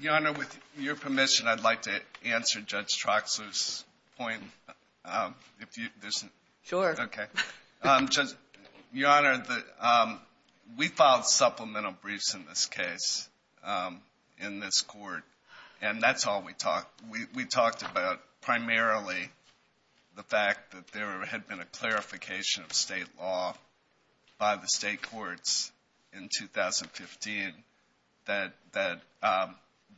Your Honor, with your permission, I'd like to answer Judge Troxler's point. Sure. Your Honor, we filed supplemental briefs in this case, in this court, and that's all we talked about. We talked about primarily the fact that there had been a clarification of state law by the state courts in 2015 that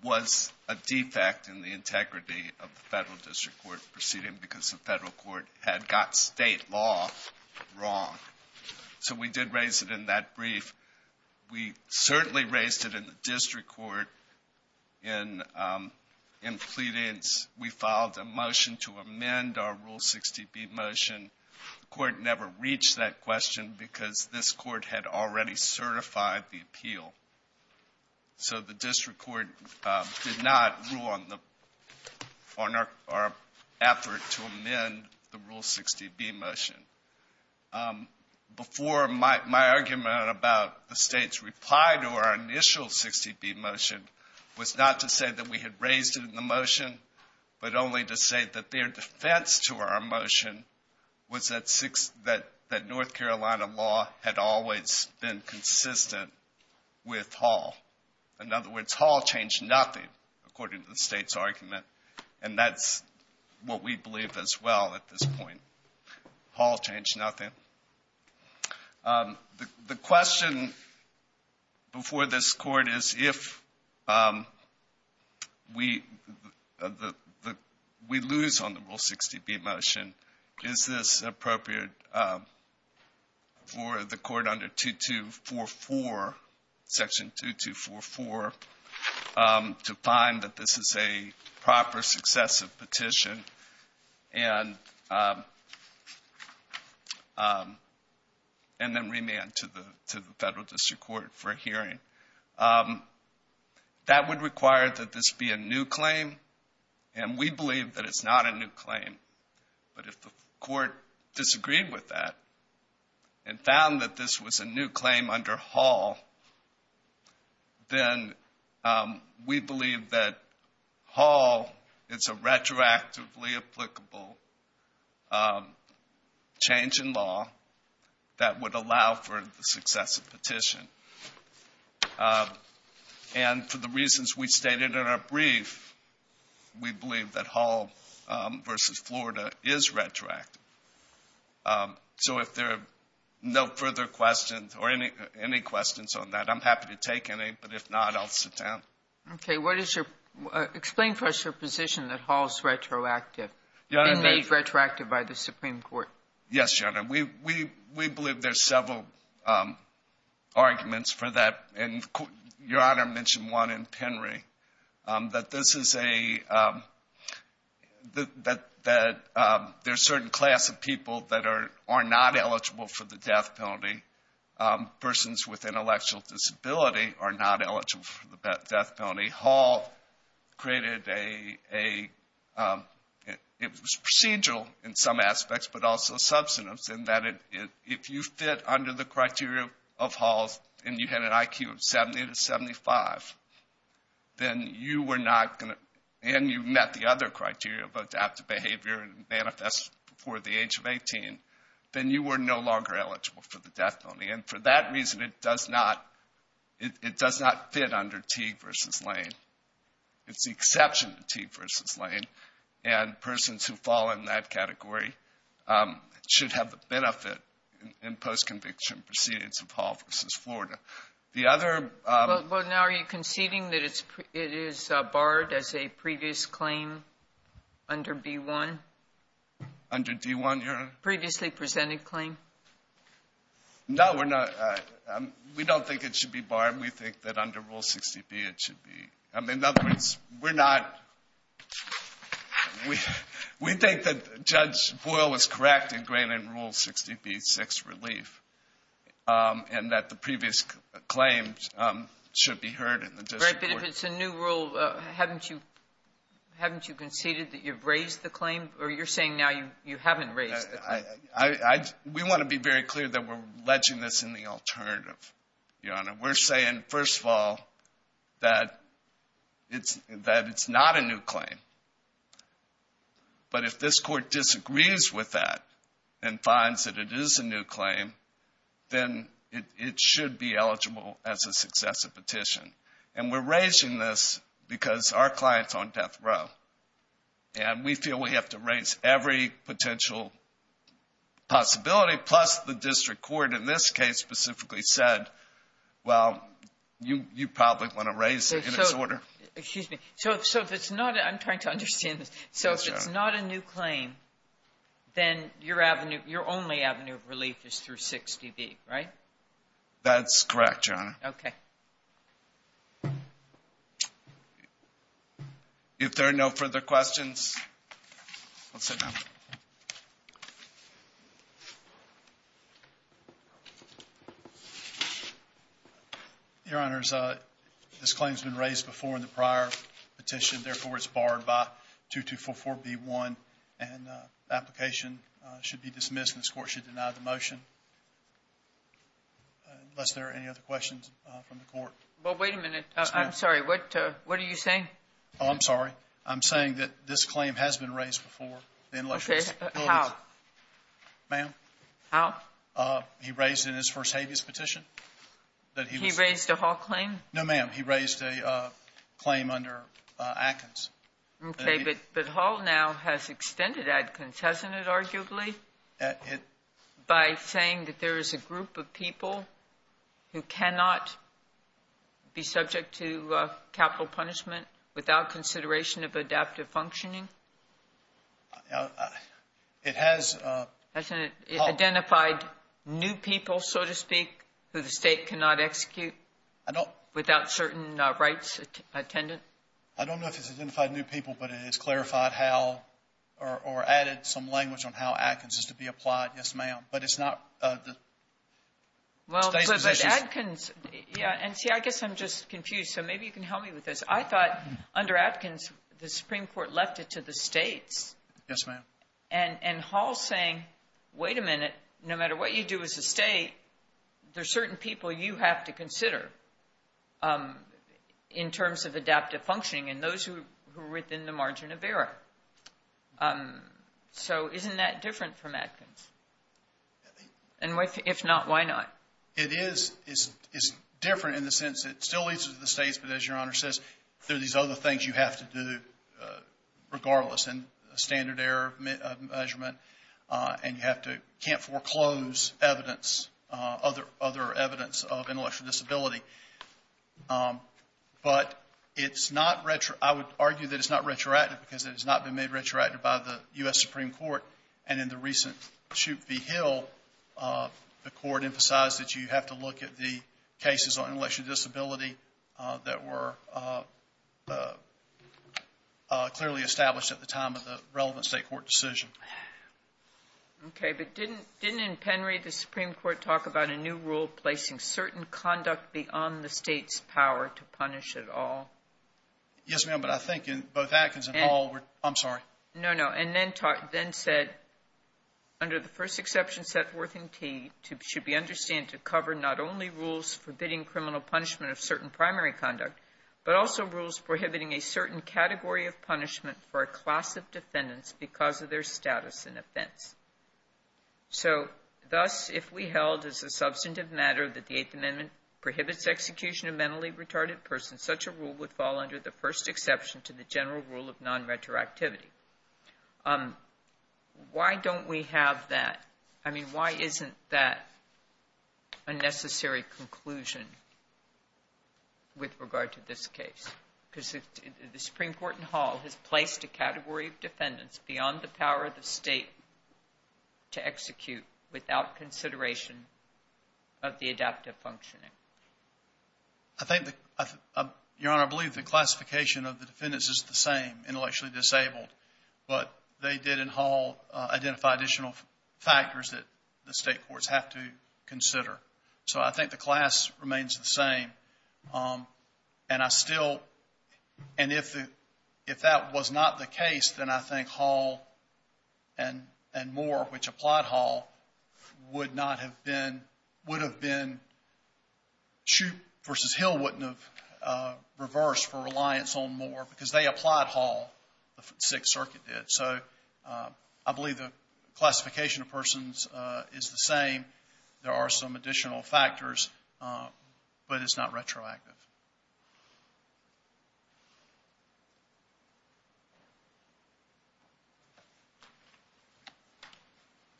was a defect in the integrity of the federal district court proceeding because the federal court had got state law wrong. So we did raise it in that brief. We certainly raised it in the district court in pleadings. We filed a motion to amend our Rule 60B motion. The court never reached that question because this court had already certified the appeal. So the district court did not rule on our effort to amend the Rule 60B motion. Before, my argument about the state's reply to our initial 60B motion was not to say that we had raised it in the motion, but only to say that their defense to our motion was that North Carolina law had always been consistent with Hall. In other words, Hall changed nothing, according to the state's argument, and that's what we believe as well at this point. Hall changed nothing. The question before this Court is if we lose on the Rule 60B motion, is this appropriate for the Court under 2244, Section 2244, to find that this is a proper successive petition? And then remand to the federal district court for a hearing. That would require that this be a new claim, and we believe that it's not a new claim. But if the court disagreed with that and found that this was a new claim under Hall, then we believe that Hall is a retroactively applicable change in law that would allow for the successive petition. And for the reasons we stated in our brief, we believe that Hall v. Florida is retroactive. So if there are no further questions or any questions on that, I'm happy to take any, but if not, I'll sit down. Okay. Explain for us your position that Hall is retroactive, being made retroactive by the Supreme Court. Yes, Your Honor. We believe there's several arguments for that, and Your Honor mentioned one in Penry, that this is a – that there's a certain class of people that are not eligible for the death penalty. Persons with intellectual disability are not eligible for the death penalty. Hall created a – it was procedural in some aspects, but also substantive, in that if you fit under the criteria of Hall's and you had an IQ of 70 to 75, then you were not going to – and you met the other criteria of adaptive behavior and manifest before the age of 18, then you were no longer eligible for the death penalty. And for that reason, it does not fit under Teague v. Lane. It's the exception to Teague v. Lane, and persons who fall in that category should have the benefit in post-conviction proceedings of Hall v. Florida. The other – But now are you conceding that it is barred as a previous claim under B-1? Under D-1, Your Honor? Previously presented claim? No, we're not – we don't think it should be barred. We think that under Rule 60B it should be – in other words, we're not – we think that Judge Boyle was correct in granting Rule 60B, 6, relief, and that the previous claim should be heard in the district court. But if it's a new rule, haven't you conceded that you've raised the claim? Or you're saying now you haven't raised the claim? We want to be very clear that we're ledging this in the alternative, Your Honor. We're saying, first of all, that it's not a new claim. But if this court disagrees with that and finds that it is a new claim, then it should be eligible as a successive petition. And we're raising this because our client's on death row. And we feel we have to raise every potential possibility, plus the district court in this case specifically said, well, you probably want to raise it in its order. Excuse me. So if it's not – I'm trying to understand this. So if it's not a new claim, then your avenue – your only avenue of relief is through 60B, right? That's correct, Your Honor. Okay. If there are no further questions, we'll sit down. Your Honor, this claim has been raised before in the prior petition. Therefore, it's barred by 2244B1. And the application should be dismissed, and this court should deny the motion. Unless there are any other questions from the court. Well, wait a minute. I'm sorry. What are you saying? Oh, I'm sorry. I'm saying that this claim has been raised before. Okay. How? Ma'am? How? He raised it in his first habeas petition. He raised a Hall claim? No, ma'am. He raised a claim under Adkins. Okay. But Hall now has extended Adkins, hasn't it, arguably, by saying that there is a group of people who cannot be subject to capital punishment without consideration of adaptive functioning? It has. Hasn't it identified new people, so to speak, who the state cannot execute without certain rights attendant? I don't know if it's identified new people, but it has clarified how or added some language on how Adkins is to be applied. Yes, ma'am. But it's not the state's position. Well, but Adkins, yeah. And, see, I guess I'm just confused, so maybe you can help me with this. I thought under Adkins the Supreme Court left it to the states. Yes, ma'am. And Hall is saying, wait a minute, no matter what you do as a state, there are certain people you have to consider in terms of adaptive functioning. And those who are within the margin of error. So isn't that different from Adkins? And if not, why not? It is. It's different in the sense that it still leads to the states, but as Your Honor says, there are these other things you have to do regardless, and standard error measurement, and you can't foreclose evidence, other evidence of intellectual disability. But it's not, I would argue that it's not retroactive, because it has not been made retroactive by the U.S. Supreme Court. And in the recent Chute v. Hill, the Court emphasized that you have to look at the cases on intellectual disability that were clearly established at the time of the relevant state court decision. Okay. But didn't in Penry the Supreme Court talk about a new rule placing certain conduct beyond the state's power to punish at all? Yes, ma'am. But I think in both Adkins and Hall, I'm sorry. No, no. And then said, under the first exception, Sethworth and Tee, should be understood to cover not only rules forbidding criminal punishment of certain primary conduct, because of their status and offense. So thus, if we held as a substantive matter that the Eighth Amendment prohibits execution of mentally retarded persons, such a rule would fall under the first exception to the general rule of non-retroactivity. Why don't we have that? I mean, why isn't that a necessary conclusion with regard to this case? Because the Supreme Court in Hall has placed a category of defendants beyond the power of the state to execute without consideration of the adaptive functioning. Your Honor, I believe the classification of the defendants is the same, intellectually disabled. But they did in Hall identify additional factors that the state courts have to consider. So I think the class remains the same. And I still, and if that was not the case, then I think Hall and Moore, which applied Hall, would not have been, would have been, versus Hill wouldn't have reversed for reliance on Moore, because they applied Hall, the Sixth Circuit did. So I believe the classification of persons is the same. There are some additional factors, but it's not retroactive.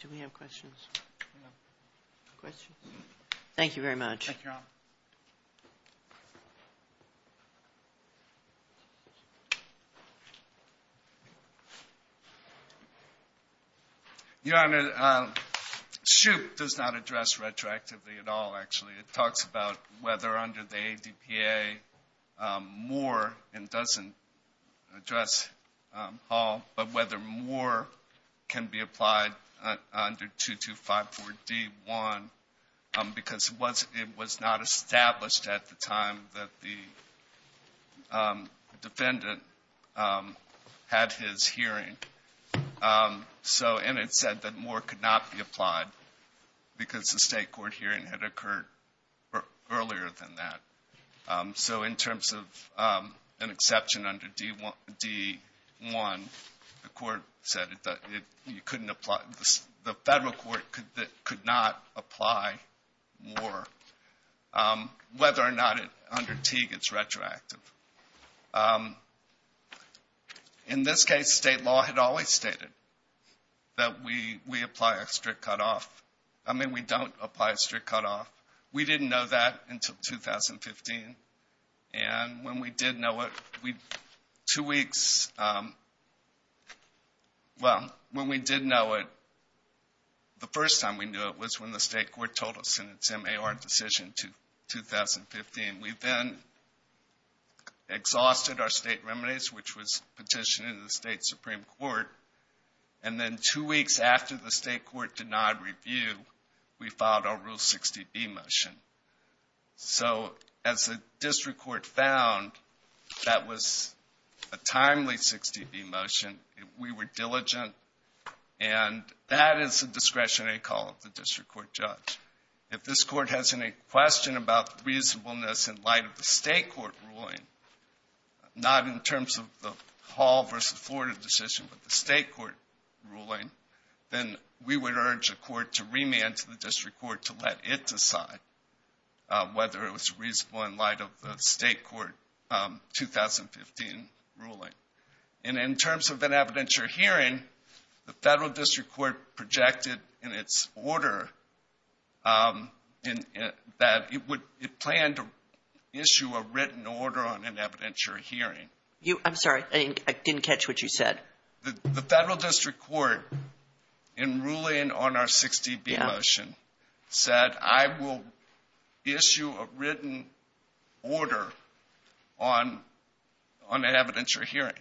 Do we have questions? No. Questions? Thank you, Your Honor. Your Honor, Shoup does not address retroactively at all, actually. It talks about whether under the ADPA, Moore, and doesn't address Hall, but whether Moore can be applied under 2254 D1, because it was not established at the time that the defendant had his hearing. And it said that Moore could not be applied because the state court hearing had occurred earlier than that. So in terms of an exception under D1, the court said that you couldn't apply, the federal court could not apply Moore, whether or not under T it's retroactive. In this case, state law had always stated that we apply a strict cutoff. I mean, we don't apply a strict cutoff. We didn't know that until 2015. And when we did know it, two weeks, well, when we did know it, the first time we knew it was when the state court told us in its MAR decision in 2015. We then exhausted our state remedies, which was petitioned in the state Supreme Court, and then two weeks after the state court denied review, we filed our Rule 60B motion. So as the district court found, that was a timely 60B motion. We were diligent, and that is a discretionary call of the district court judge. If this court has any question about reasonableness in light of the state court ruling, not in terms of the Hall versus Florida decision, but the state court ruling, then we would urge the court to remand to the district court to let it decide whether it was reasonable in light of the state court 2015 ruling. And in terms of an evidentiary hearing, the federal district court projected in its order that it planned to issue a written order on an evidentiary hearing. I'm sorry, I didn't catch what you said. The federal district court, in ruling on our 60B motion, said, I will issue a written order on an evidentiary hearing.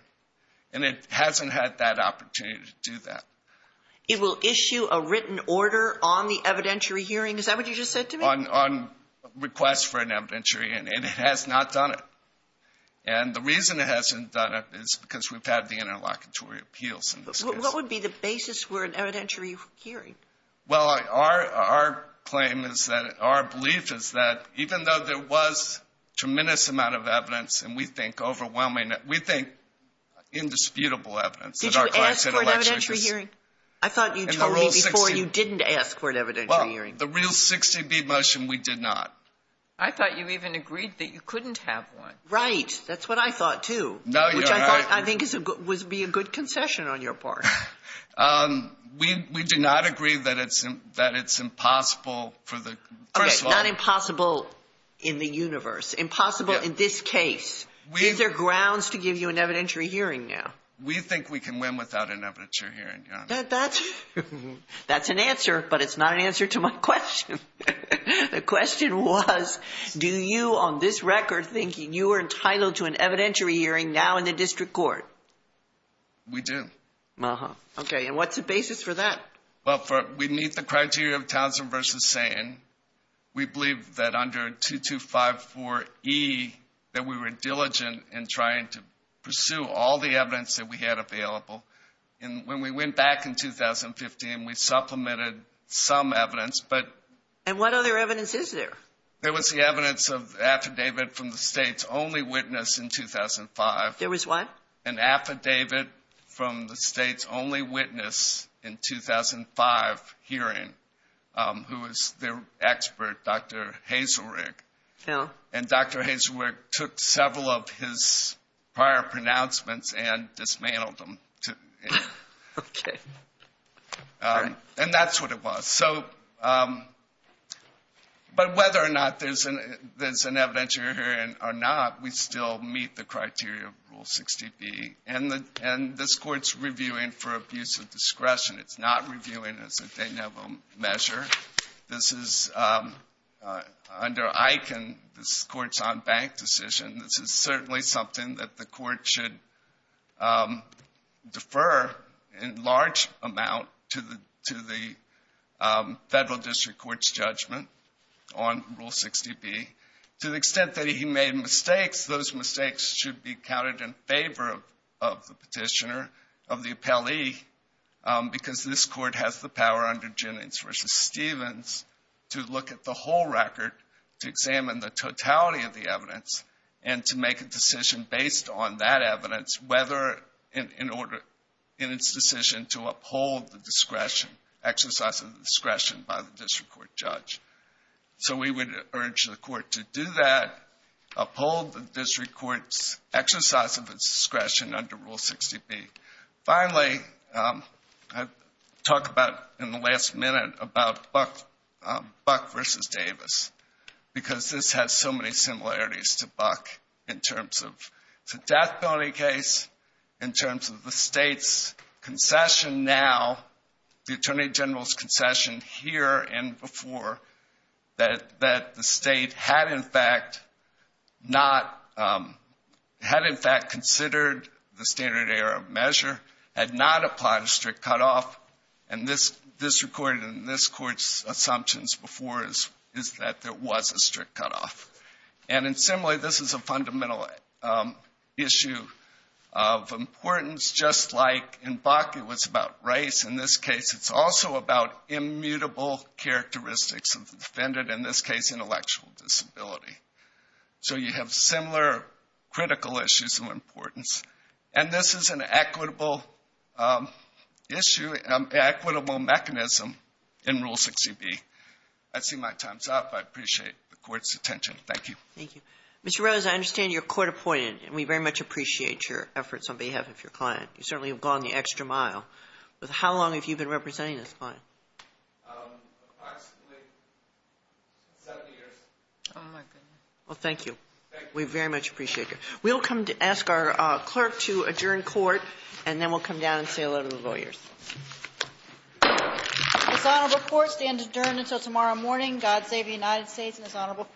And it hasn't had that opportunity to do that. It will issue a written order on the evidentiary hearing? Is that what you just said to me? On request for an evidentiary, and it has not done it. And the reason it hasn't done it is because we've had the interlocutory appeals in this case. What would be the basis for an evidentiary hearing? Well, our claim is that, our belief is that, even though there was a tremendous amount of evidence, and we think overwhelming, we think indisputable evidence that our client said election issues. An evidentiary hearing? I thought you told me before you didn't ask for an evidentiary hearing. Well, the real 60B motion, we did not. I thought you even agreed that you couldn't have one. Right, that's what I thought too. No, you're right. Which I thought I think would be a good concession on your part. We do not agree that it's impossible for the, first of all. Okay, not impossible in the universe, impossible in this case. Is there grounds to give you an evidentiary hearing now? We think we can win without an evidentiary hearing, Your Honor. That's an answer, but it's not an answer to my question. The question was, do you on this record think you are entitled to an evidentiary hearing now in the district court? We do. Okay, and what's the basis for that? Well, we meet the criteria of Townsend v. Satan. We believe that under 2254E that we were diligent in trying to pursue all the evidence that we had available. And when we went back in 2015, we supplemented some evidence. And what other evidence is there? There was the evidence of affidavit from the State's only witness in 2005. There was what? An affidavit from the State's only witness in 2005 hearing, who was their expert, Dr. Hazelrigg. And Dr. Hazelrigg took several of his prior pronouncements and dismantled them. Okay. And that's what it was. But whether or not there's an evidentiary hearing or not, we still meet the criteria of Rule 60B. And this Court's reviewing for abuse of discretion. It's not reviewing as a de novo measure. This is under EIC and this Court's on bank decision. This is certainly something that the Court should defer in large amount to the Federal District Court's judgment on Rule 60B. To the extent that he made mistakes, those mistakes should be counted in favor of the petitioner, of the appellee, because this Court has the power under Jennings v. Stevens to look at the whole record, to examine the totality of the evidence, and to make a decision based on that evidence, whether in its decision to uphold the discretion, exercise of the discretion by the District Court judge. So we would urge the Court to do that, uphold the District Court's exercise of its discretion under Rule 60B. Finally, I talked about in the last minute about Buck v. Davis, because this has so many similarities to Buck, in terms of the death penalty case, in terms of the State's concession now, the Attorney General's concession here and before, that the State had, in fact, considered the standard error measure, had not applied a strict cutoff, and this recorded in this Court's assumptions before is that there was a strict cutoff. And similarly, this is a fundamental issue of importance, just like in Buck it was about race. In this case, it's also about immutable characteristics of the defendant, in this case, intellectual disability. So you have similar critical issues of importance. And this is an equitable issue, an equitable mechanism in Rule 60B. I see my time's up. I appreciate the Court's attention. Thank you. Thank you. Mr. Rose, I understand you're court-appointed, and we very much appreciate your efforts on behalf of your client. You certainly have gone the extra mile. How long have you been representing this client? Approximately seven years. Oh, my goodness. Well, thank you. Thank you. We very much appreciate it. We'll come to ask our clerk to adjourn court, and then we'll come down and say hello to the lawyers. This honorable court stands adjourned until tomorrow morning. God save the United States and this honorable court.